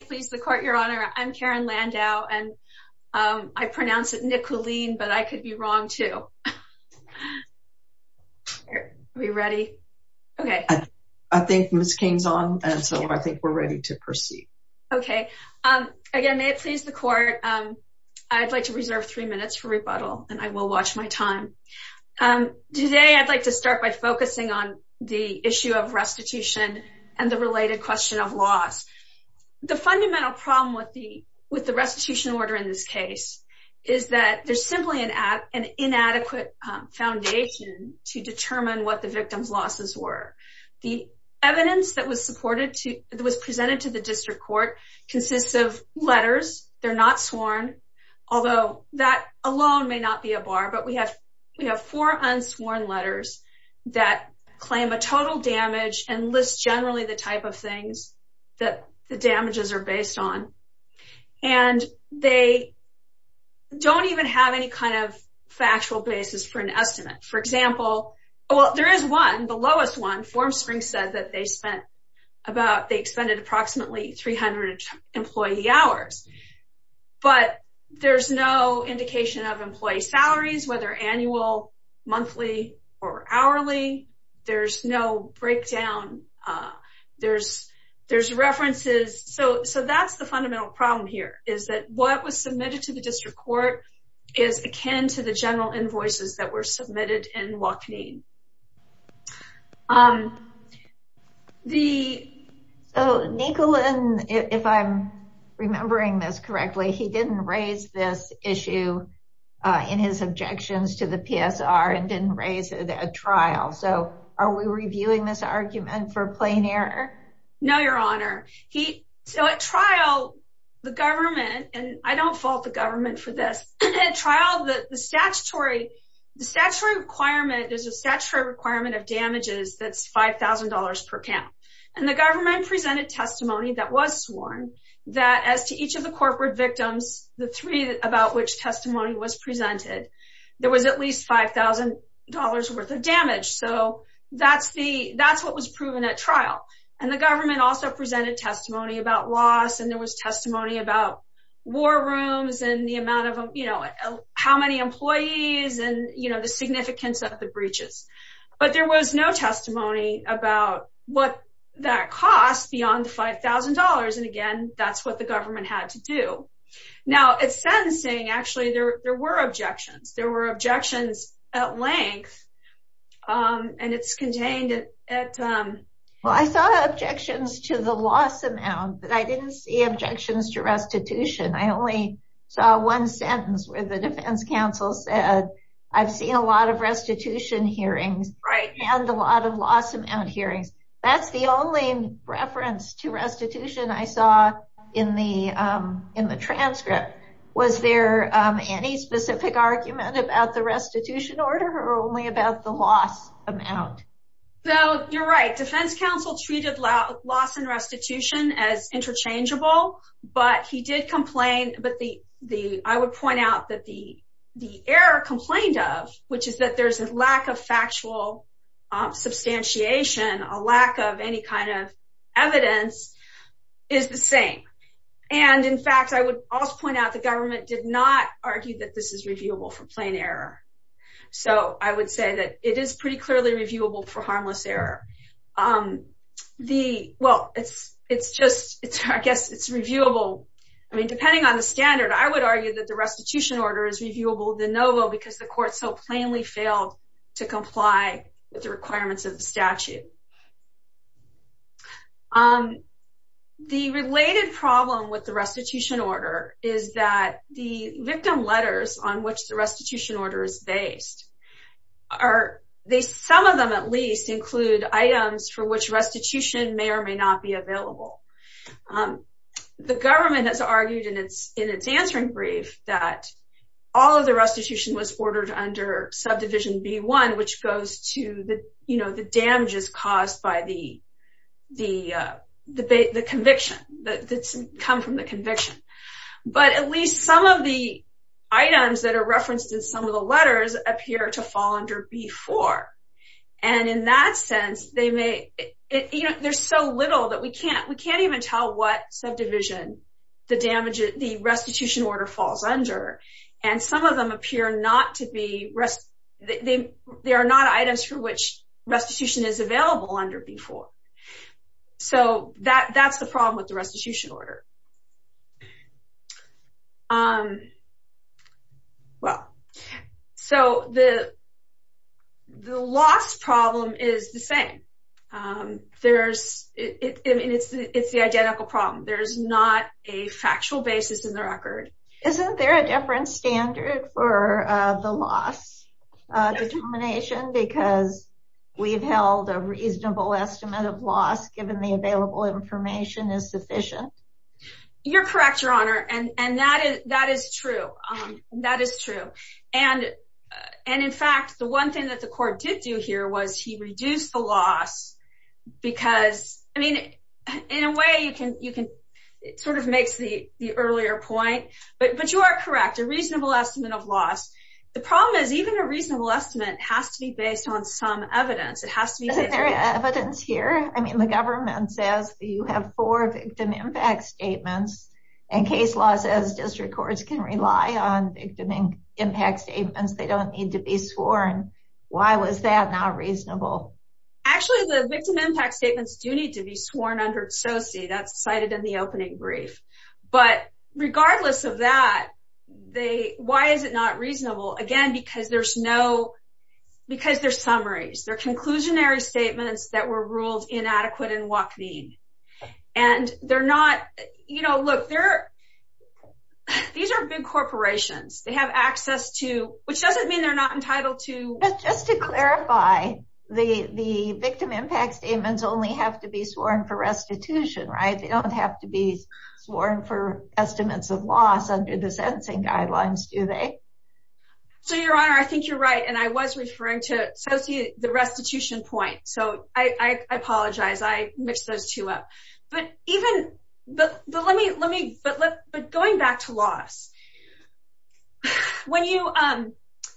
Please the court, Your Honor. I'm Karen Landau and I pronounce it Nikulin, but I could be wrong too. Are we ready? Okay. I think Ms. King's on and so I think we're ready to proceed. Okay. Again, may it please the court, I'd like to reserve three minutes for rebuttal and I will watch my time. Today, I'd like to start by focusing on the issue of restitution and the related question of laws. The fundamental problem with the restitution order in this case is that there's simply an inadequate foundation to determine what the victim's losses were. The evidence that was presented to the district court consists of letters. They're not sworn, although that alone may not be a bar, but we have four unsworn letters that claim a total damage and list generally the type of things that the damages are based on and they don't even have any kind of factual basis for an estimate. For example, well, there is one, the lowest one, Formspring said that they spent about, they expended approximately 300 employee hours, but there's no indication of employee salaries, whether annual, monthly, or hourly. There's no breakdown. There's references. So that's the fundamental problem here, is that what was submitted to the district court is akin to the general invoices that were submitted in Wachneen. So Nicolin, if I'm remembering this correctly, he didn't raise this issue in his objections to the argument for plain error? No, Your Honor. He, so at trial, the government, and I don't fault the government for this, at trial, the statutory requirement is a statutory requirement of damages that's $5,000 per count. And the government presented testimony that was sworn that as to each of the corporate victims, the three about which testimony was presented, there was at least $5,000 worth of damage. So that's the, that's what was proven at trial. And the government also presented testimony about loss. And there was testimony about war rooms and the amount of, you know, how many employees and, you know, the significance of the breaches. But there was no testimony about what that costs beyond $5,000. And again, that's what government had to do. Now, it's sentencing, actually, there were objections, there were objections at length. And it's contained at... Well, I saw objections to the loss amount, but I didn't see objections to restitution. I only saw one sentence where the defense counsel said, I've seen a lot of restitution hearings, and a lot of loss amount hearings. That's the only reference to restitution I saw in the, in the transcript. Was there any specific argument about the restitution order or only about the loss amount? So you're right, defense counsel treated loss and restitution as interchangeable. But he did complain, but the the I would point out that the the error complained of, which is that there's a lack of factual substantiation, a lack of any kind of evidence is the same. And in fact, I would also point out, the government did not argue that this is reviewable for plain error. So I would say that it is pretty clearly reviewable for harmless error. The well, it's, it's just, it's, I guess it's reviewable. I mean, depending on the standard, I would argue that the restitution order is reviewable de novo, because the court so statute. Um, the related problem with the restitution order is that the victim letters on which the restitution order is based, are they some of them at least include items for which restitution may or may not be available. The government has argued in its in its answering brief that all of the restitution was ordered under subdivision B one, which goes to the, you know, the damages caused by the, the debate, the conviction that's come from the conviction. But at least some of the items that are referenced in some of the letters appear to fall under before. And in that sense, they may, you know, there's so little that we can't we can't even tell what subdivision, the damage, the restitution order falls under, and some of them appear not to be rest. They, they are not items for which restitution is available under before. So that that's the problem with the restitution order. Um, well, so the, the loss problem is the same. There's, it's the identical problem. There's not a factual basis in the record. Isn't there a different standard for the loss determination because we've held a reasonable estimate of loss given the available information is sufficient. You're correct, Your Honor. And that is that is true. That is true. And, and in fact, the one thing that the court did do here was he reduced the loss. Because I mean, in a way you can you can, it sort of makes the earlier point, but but you are correct, a reasonable estimate of loss. The problem is even a reasonable estimate has to be based on some evidence, it has to be evidence here. I mean, the government says you have four victim impact statements. And case law says district courts can rely on victim impact statements, they don't need to be sworn. Why was that not reasonable? Actually, the victim impact statements do need to be sworn under SOCI. That's cited in the opening brief. But regardless of that, they, why is it not reasonable? Again, because there's no, because they're summaries, they're conclusionary statements that were ruled inadequate in WACV. And they're not, you know, look, they're, these are big corporations, they have access to which doesn't mean they're not entitled to. Just to clarify, the the victim impact statements only have to be sworn for restitution, right? They don't have to be sworn for estimates of loss under the sentencing guidelines, do they? So Your Honor, I think you're right. And I was referring to SOCI, the restitution point. So I apologize, I mixed those two up. But even, but let me, let me, but let, but going back to loss. When you,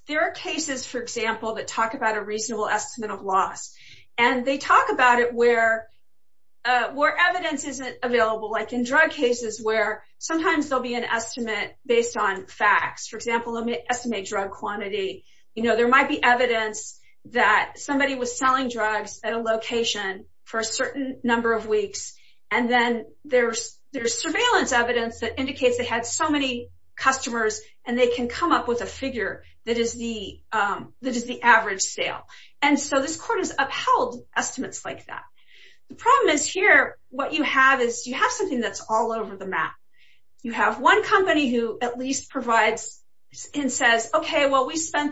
there are cases, for example, that talk about a reasonable estimate of loss. And they talk about it where, where evidence isn't available, like in drug cases where sometimes there'll be an estimate based on facts. For example, let me estimate drug quantity. You know, there might be evidence that somebody was selling drugs at a location for a certain number of weeks. And then there's, there's surveillance evidence that indicates they had so many customers, and they can come up with a figure that is the, that is the average sale. And so this court has upheld estimates like that. The problem is here, what you have is you have something that's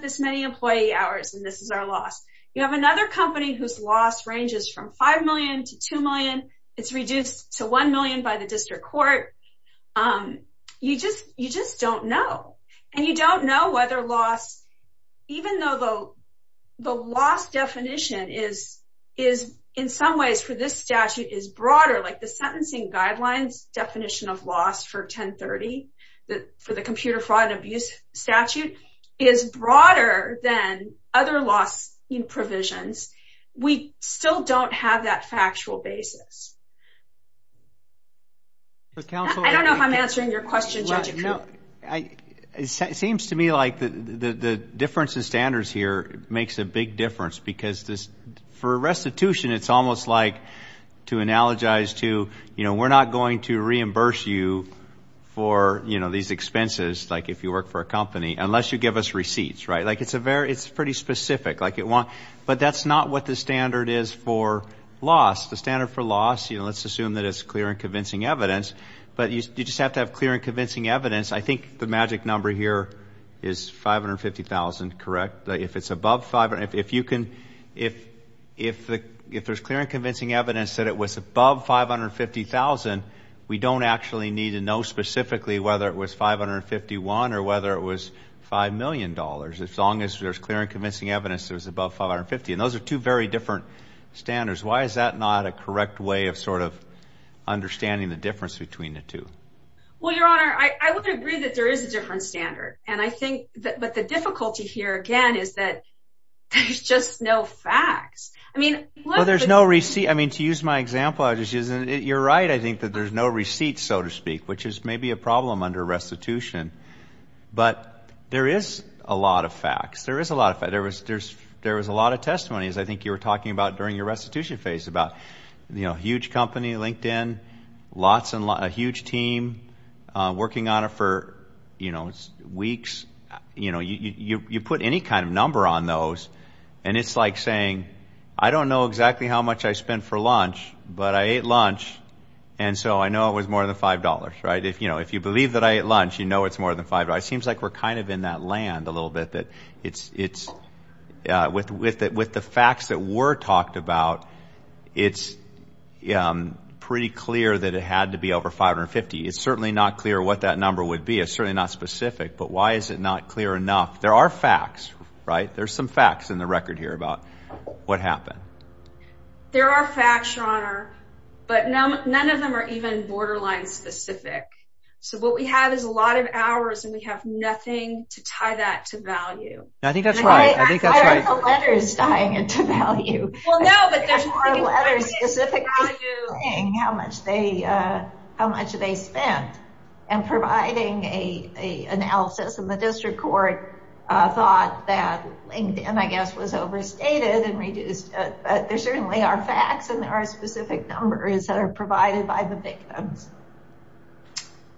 this many employee hours, and this is our loss. You have another company whose loss ranges from 5 million to 2 million. It's reduced to 1 million by the district court. You just, you just don't know. And you don't know whether loss, even though the, the loss definition is, is in some ways for this statute is broader, like the sentencing guidelines definition of loss for 1030, the, for the computer fraud and abuse statute, is broader than other loss in provisions. We still don't have that factual basis. I don't know if I'm answering your question, Judge. It seems to me like the, the, the difference in standards here makes a big difference because this, for restitution, it's almost like to analogize to, you know, we're not going to you know, these expenses, like if you work for a company, unless you give us receipts, right? Like it's a very, it's pretty specific, like it won't, but that's not what the standard is for loss. The standard for loss, you know, let's assume that it's clear and convincing evidence, but you just have to have clear and convincing evidence. I think the magic number here is 550,000, correct? If it's above 500, if you can, if, if the, if there's clear and convincing evidence that it was above 550,000, we don't actually need to know specifically whether it was 551 or whether it was $5 million, as long as there's clear and convincing evidence that was above 550. And those are two very different standards. Why is that not a correct way of sort of understanding the difference between the two? Well, Your Honor, I would agree that there is a different standard. And I think that, but the difficulty here again, is that there's just no facts. I mean, there's no receipt. I mean, to use my example, I just isn't it. You're right. I think that there's no receipts, so to speak, which is maybe a problem under restitution, but there is a lot of facts. There is a lot of, there was, there's, there was a lot of testimonies. I think you were talking about during your restitution phase about, you know, huge company, LinkedIn, lots and lot, a huge team, uh, working on it for, you know, weeks, you know, you, you, you put any kind of number on those and it's like saying, I don't know exactly how much I spent for lunch, but I ate lunch. And so I know it was more than $5, right? If, you know, if you believe that I ate lunch, you know, it's more than $5. It seems like we're kind of in that land a little bit that it's, it's, uh, with, with, with the facts that were talked about, it's, um, pretty clear that it had to be over 550. It's certainly not clear what that number would be. It's certainly not specific, but why is it not clear enough? There are facts, right? There's some facts in the record here about what happened. There are facts, your honor, but none, none of them are even borderline specific. So what we have is a lot of hours and we have nothing to tie that to value. I think that's right. I think that's right. Why are the letters tying it to value? Well, no, but there are letters specifically saying how much they, uh, how much they spent and providing a, a analysis and the district court, uh, thought that LinkedIn, I guess, was overstated and reduced. Uh, but there certainly are facts and there are specific numbers that are provided by the victims.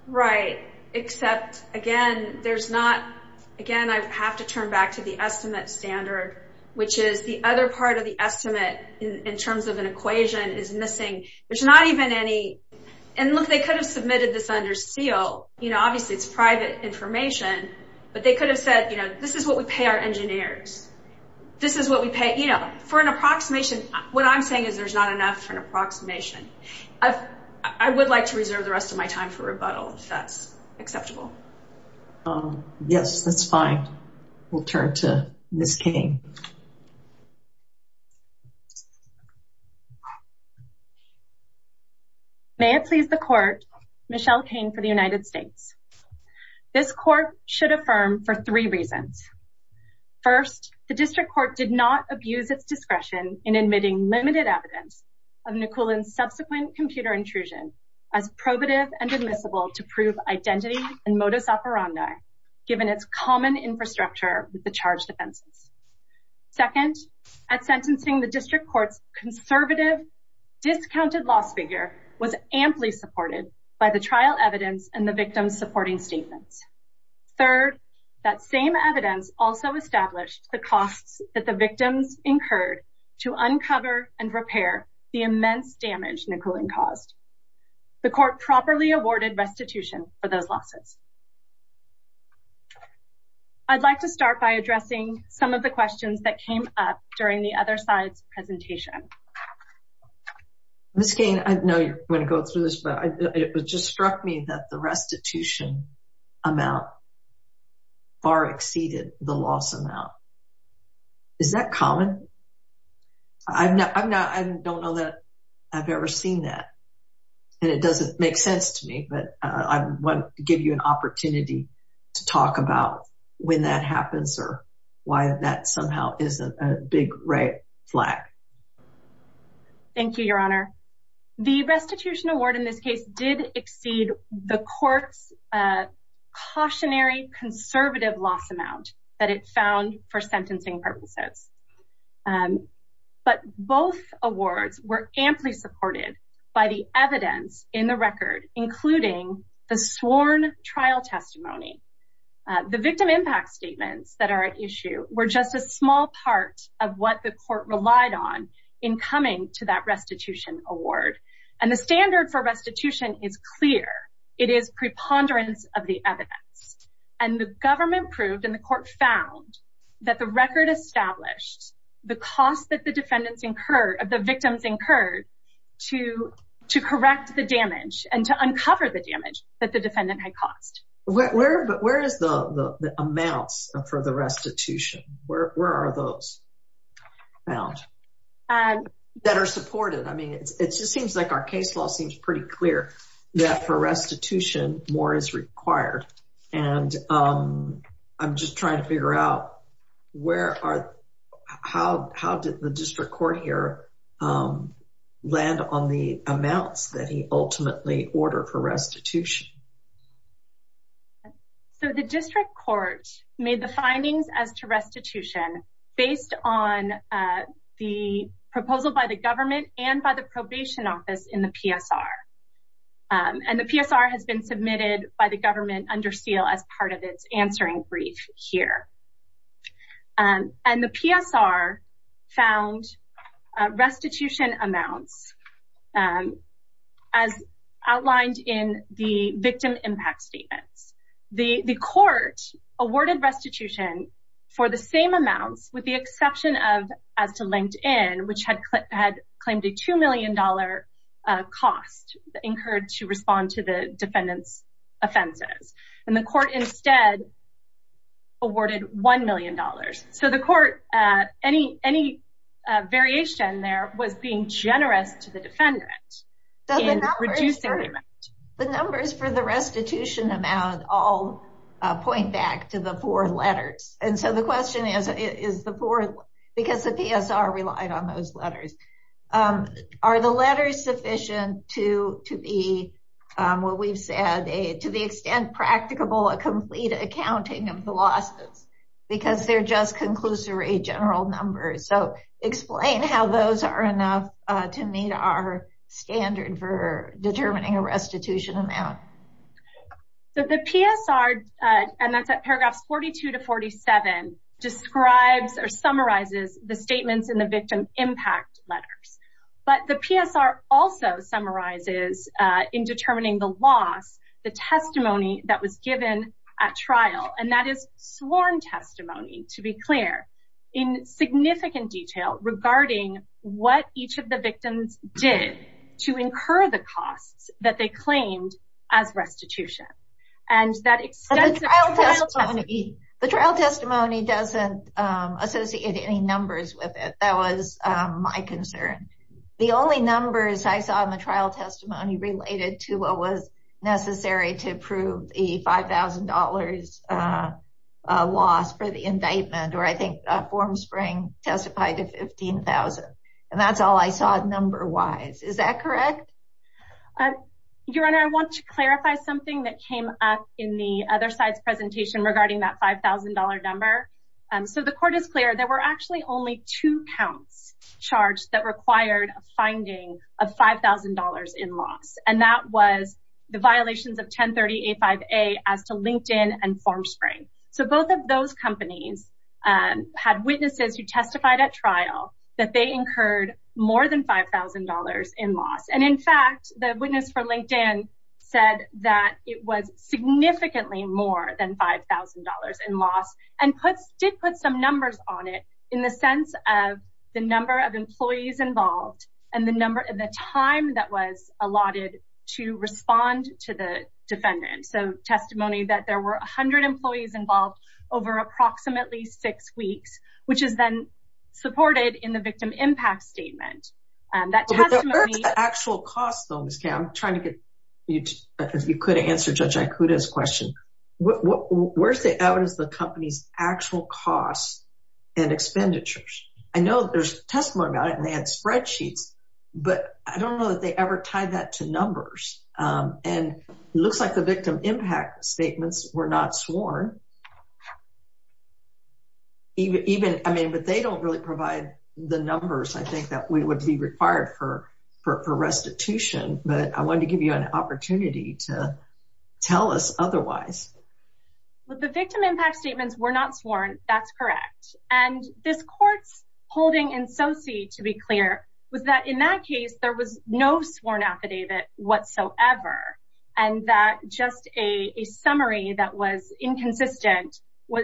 Right. Except again, there's not, again, I have to turn back to the estimate standard, which is the other part of the estimate in terms of an equation is missing. There's not even any, and look, they could have submitted this under seal, you know, obviously it's private information, but they could have said, you know, this is what we pay our engineers. This is what we pay, you know, for an approximation. What I'm saying is there's not enough for an approximation. I've, I would like to reserve the rest of my time for we'll turn to Ms. Kane. May it please the court, Michelle Kane for the United States. This court should affirm for three reasons. First, the district court did not abuse its discretion in admitting limited evidence of Nicole and subsequent computer intrusion as probative and admissible to prove identity and modus operandi given its common infrastructure with the charge defenses. Second, at sentencing the district court's conservative, discounted loss figure was amply supported by the trial evidence and the victim's supporting statements. Third, that same evidence also established the costs that the victims incurred to uncover and repair the immense damage Nicole caused. The court properly awarded restitution for those losses. I'd like to start by addressing some of the questions that came up during the other side's presentation. Ms. Kane, I know you're going to go through this, but it just struck me that the I'm not, I'm not, I don't know that I've ever seen that and it doesn't make sense to me, but I want to give you an opportunity to talk about when that happens or why that somehow isn't a big red flag. Thank you, your honor. The restitution award in this case did exceed the court's cautionary conservative loss amount that it found for sentencing purposes. But both awards were amply supported by the evidence in the record, including the sworn trial testimony. The victim impact statements that are at issue were just a small part of what the court relied on in coming to that restitution award. And the standard for restitution is clear. It is preponderance of the and the government proved in the court found that the record established the cost that the defendants incurred of the victims incurred to correct the damage and to uncover the damage that the defendant had caused. Where is the amounts for the restitution? Where are those found? That are supported. I mean, it just seems like our case law seems pretty clear that for restitution, more is required. And I'm just trying to figure out where are, how did the district court here land on the amounts that he ultimately ordered for restitution? So the district court made the findings as to restitution based on the proposal by the government and by the probation office in the PSR. And the PSR has been submitted by the government under seal as part of its answering brief here. And the PSR found restitution amounts as outlined in the victim impact statements. The court awarded restitution for the same amounts with the exception of as to LinkedIn, which had had claimed a $2 million cost incurred to respond to the defendant's offenses. And the court instead awarded $1 million. So the court, any variation there was being generous to the defendant. The numbers for the restitution amount all point back to the four letters. And so the question is, because the PSR relied on those letters, are the letters sufficient to be what we've said, to the extent practicable, a complete accounting of the losses? Because they're just conclusory general numbers. So explain how those are enough to meet our standard for determining a restitution amount. So the PSR, and that's at paragraphs 42 to 46, describes or summarizes the statements in the victim impact letters. But the PSR also summarizes in determining the loss, the testimony that was given at trial. And that is sworn testimony, to be clear, in significant detail regarding what each of the victims did to incur the costs that they claimed as restitution. And that extensive trial testimony... The trial testimony doesn't associate any numbers with it. That was my concern. The only numbers I saw in the trial testimony related to what was necessary to prove the $5,000 loss for the indictment, or I think Formspring testified to $15,000. And that's all I saw number-wise. Is that correct? Your Honor, I want to clarify something that came up in the other side's presentation regarding that $5,000 number. So the court is clear, there were actually only two counts charged that required a finding of $5,000 in loss. And that was the violations of 1030A5A as to LinkedIn and Formspring. So both of those companies had witnesses who testified at $5,000 in loss. And in fact, the witness for LinkedIn said that it was significantly more than $5,000 in loss and did put some numbers on it in the sense of the number of employees involved and the time that was allotted to respond to the defendant. So testimony that there were 100 employees involved over approximately six weeks, which is then supported in the victim impact statement. The actual cost though, Ms. Kay, I'm trying to get you to answer Judge Ikuda's question. Where's the evidence of the company's actual costs and expenditures? I know there's a testimony about it and they had spreadsheets, but I don't know that they ever tied that to numbers. And it looks like the victim impact statements were not sworn. Even, I mean, but they don't really provide the numbers, I think that we would be required for restitution. But I wanted to give you an opportunity to tell us otherwise. Well, the victim impact statements were not sworn. That's correct. And this court's holding in SoC, to be clear, was that in that case, there was no sworn affidavit whatsoever. And that just a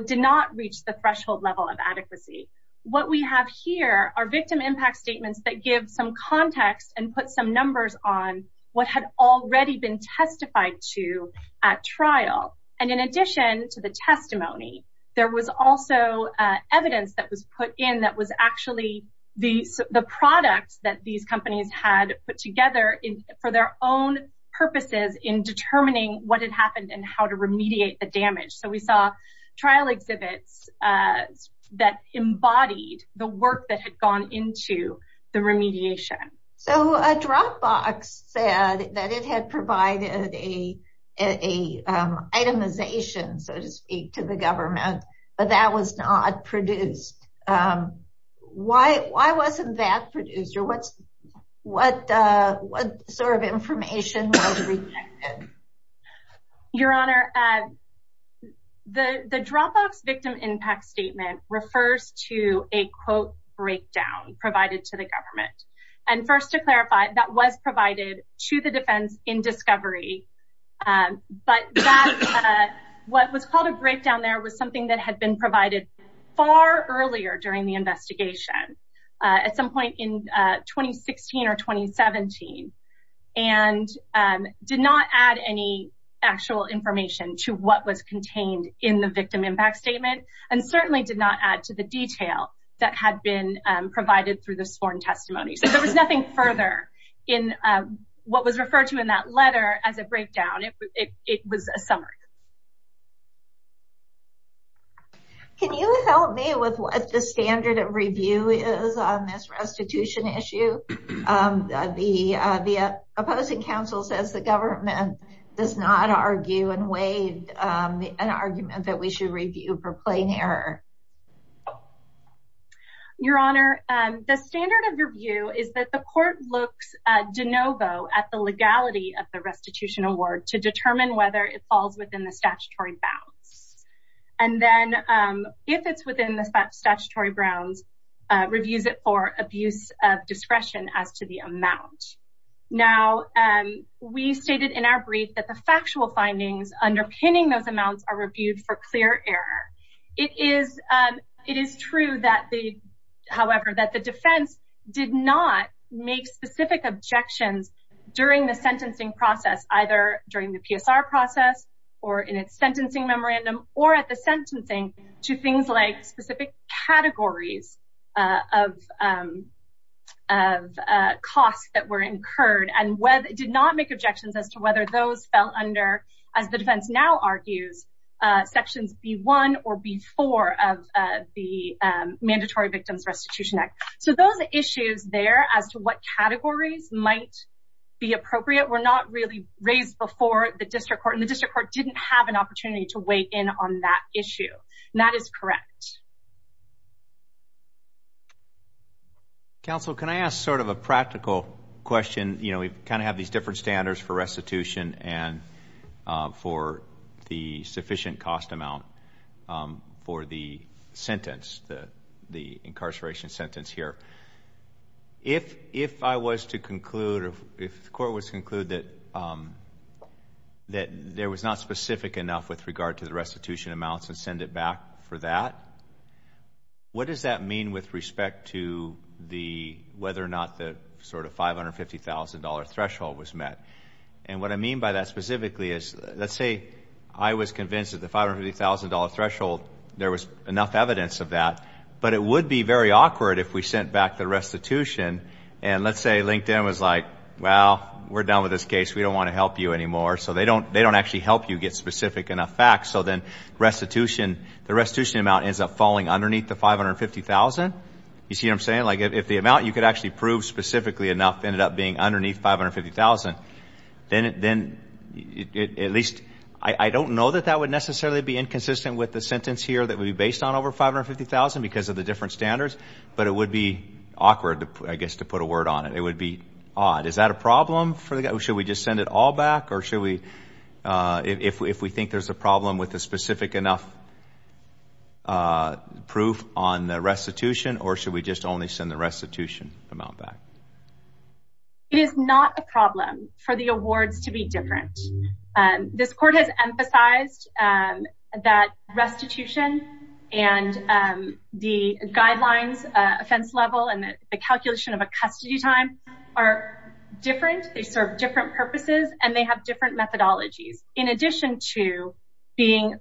did not reach the threshold level of adequacy. What we have here are victim impact statements that give some context and put some numbers on what had already been testified to at trial. And in addition to the testimony, there was also evidence that was put in that was actually the products that these companies had put together for their own purposes in determining what had trial exhibits that embodied the work that had gone into the remediation. So a Dropbox said that it had provided a itemization, so to speak, to the government, but that was not produced. Why wasn't that produced? Or what sort of information was rejected? Your Honor, the Dropbox victim impact statement refers to a quote breakdown provided to the government. And first to clarify, that was provided to the defense in discovery. But what was called a breakdown there was something that had been provided far earlier during the actual information to what was contained in the victim impact statement and certainly did not add to the detail that had been provided through the sworn testimony. So there was nothing further in what was referred to in that letter as a breakdown. It was a summary. Can you help me with what the standard of review is on this restitution issue? The opposing counsel says the government does not argue and waive an argument that we should review for plain error. Your Honor, the standard of review is that the court looks de novo at the legality of the restitution award to determine whether it falls within the statutory bounds. And then if it's within the statutory grounds, reviews it for abuse of discretion as to the amount. Now, we stated in our brief that the factual findings underpinning those amounts are reviewed for clear error. It is true, however, that the defense did not make specific objections during the sentencing process, either during the PSR process or in its sentencing memorandum, or at the sentencing to things like specific categories of costs that were incurred, and did not make objections as to whether those fell under, as the defense now argues, sections B-1 or B-4 of the Mandatory Victims Restitution Act. So those issues there as to what categories might be appropriate were not really raised before the district court, and the district court didn't have an opportunity to weigh in on that issue. That is correct. Counsel, can I ask sort of a practical question? You know, we kind of have these different standards for restitution and for the sufficient cost amount for the sentence, the incarceration sentence here. If I was to conclude, if the court was to conclude that there was not specific enough with regard to the restitution amounts and send it back for that, what does that mean with respect to whether or not the sort of $550,000 threshold was met? And what I mean by that specifically is, let's say I was convinced that the $550,000 threshold, there was enough evidence of that, but it would be very awkward if we sent back the restitution, and let's say LinkedIn was like, well, we're done with this case. We don't want to help you anymore. So they don't actually help you get specific enough facts. So then the restitution amount ends up falling underneath the $550,000. You see what I'm saying? Like if the amount you could actually prove specifically enough ended up being underneath $550,000, then at least, I don't know that that necessarily be inconsistent with the sentence here that would be based on over $550,000 because of the different standards, but it would be awkward, I guess, to put a word on it. It would be odd. Is that a problem? Should we just send it all back, or should we, if we think there's a problem with the specific enough proof on the restitution, or should we just only send the restitution amount back? It is not a problem for the awards to be different. This court has that restitution, and the guidelines offense level, and the calculation of a custody time are different. They serve different purposes, and they have different methodologies in addition to being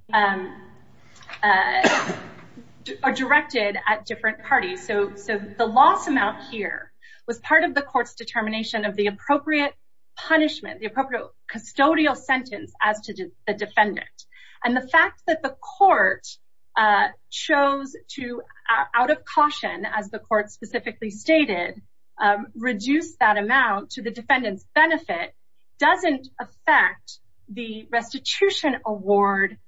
directed at different parties. So the loss amount here was part of the court's determination of the appropriate punishment, the appropriate custodial sentence as to the defendant. And the fact that the court chose to, out of caution, as the court specifically stated, reduce that amount to the defendant's benefit doesn't affect the restitution award,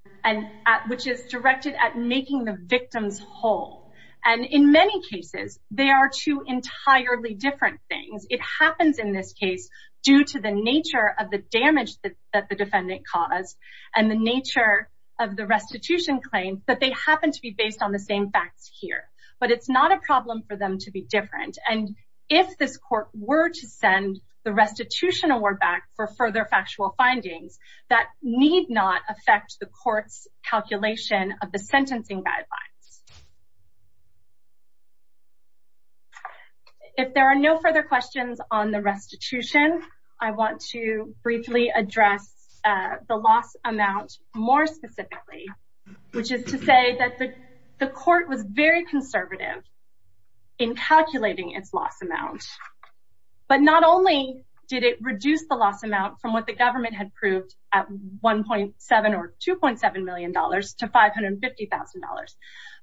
which is directed at making the victims whole. And in many cases, they are two entirely different things. It happens in this case due to the nature of the damage that the defendant caused and the nature of the restitution claim, but they happen to be based on the same facts here. But it's not a problem for them to be different. And if this court were to send the restitution award back for further factual findings, that need not affect the court's calculation of the sentencing guidelines. If there are no further questions on the restitution, I want to briefly address the loss amount more specifically, which is to say that the court was very conservative in calculating its loss amount. But not only did it reduce the loss amount from what the government had proved at $1.7 or $2.7 to $550,000,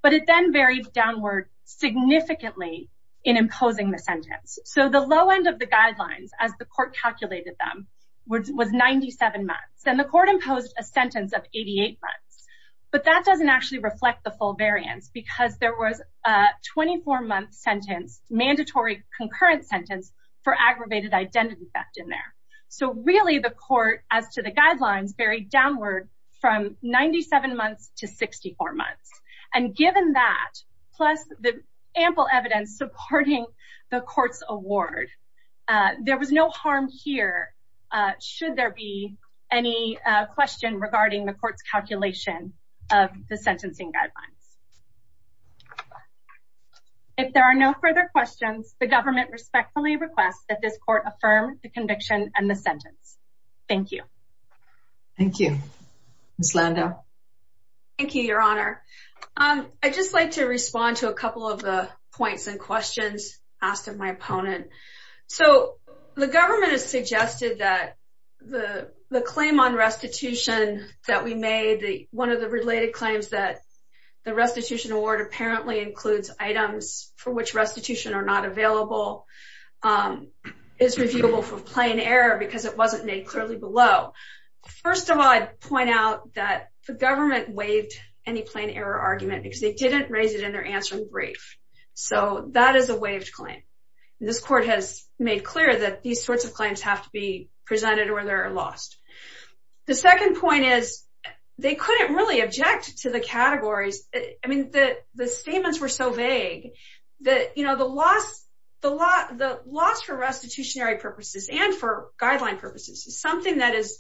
but it then varied downward significantly in imposing the sentence. So the low end of the guidelines, as the court calculated them, was 97 months. And the court imposed a sentence of 88 months. But that doesn't actually reflect the full variance because there was a 24-month sentence, mandatory concurrent sentence, for aggravated identity theft in there. So really the court, as to the guidelines, varied downward from 97 months to 64 months. And given that, plus the ample evidence supporting the court's award, there was no harm here should there be any question regarding the court's calculation of the sentencing guidelines. If there are no further questions, the government respectfully requests that this court affirm the conviction and the sentence. Thank you. Thank you. Ms. Landau? Thank you, Your Honor. I'd just like to respond to a couple of the points and questions asked of my opponent. So the government has suggested that the claim on restitution that we made, one of the related claims that the restitution award apparently includes items for which restitution are not of plain error because it wasn't made clearly below. First of all, I'd point out that the government waived any plain error argument because they didn't raise it in their answering brief. So that is a waived claim. This court has made clear that these sorts of claims have to be presented or they're lost. The second point is they couldn't really object to the categories. I mean, the statements were so vague that, you know, the loss for restitutionary purposes and for guideline purposes is something that is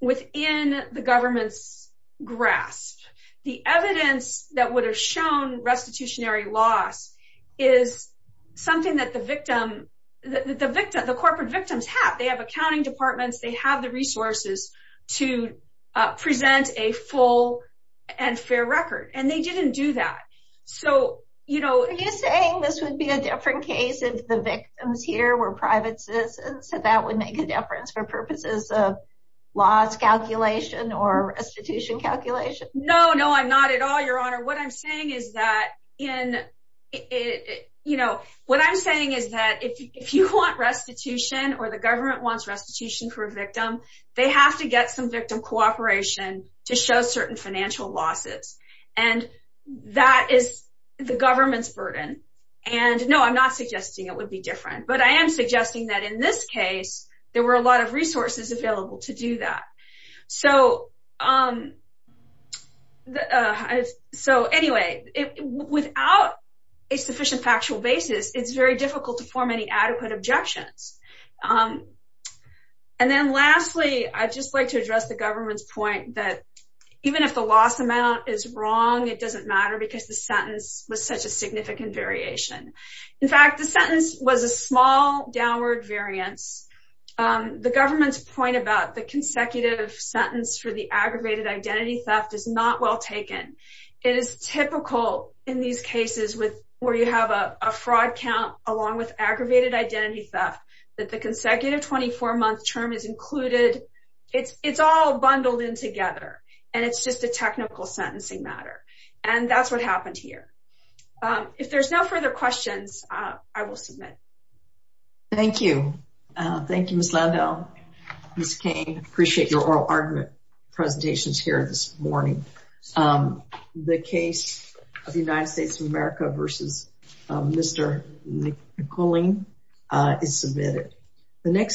within the government's grasp. The evidence that would have shown restitutionary loss is something that the victim, the corporate victims have. They have accounting departments. They have the resources to present a full and fair record. And they didn't do that. So, you know. Are you saying this would be a different case if the victims here were private citizens? So that would make a difference for purposes of loss calculation or restitution calculation? No, no, I'm not at all, Your Honor. What I'm saying is that in it, you know, what I'm saying is that if you want restitution or the government wants restitution for a victim, they have to get some victim cooperation to show certain financial losses. And that is the government's burden. And no, I'm not suggesting it would be different. But I am suggesting that in this case, there were a lot of resources available to do that. So anyway, without a sufficient factual basis, it's very difficult to form any adequate objections. And then lastly, I'd just like to address the government's point that even if the loss amount is wrong, it doesn't matter because the sentence was such a significant variation. In fact, the sentence was a small downward variance. The government's point about the consecutive sentence for the aggravated identity theft is not well taken. It is typical in these cases where you have a fraud count along with aggravated identity theft, that the consecutive 24-month term is included. It's all bundled in together. And it's just a technical sentencing matter. And that's what happened here. If there's no further questions, I will submit. Thank you. Thank you, Ms. Landau. Ms. Kane, appreciate your oral argument presentations here this morning. The case of the United States of is submitted.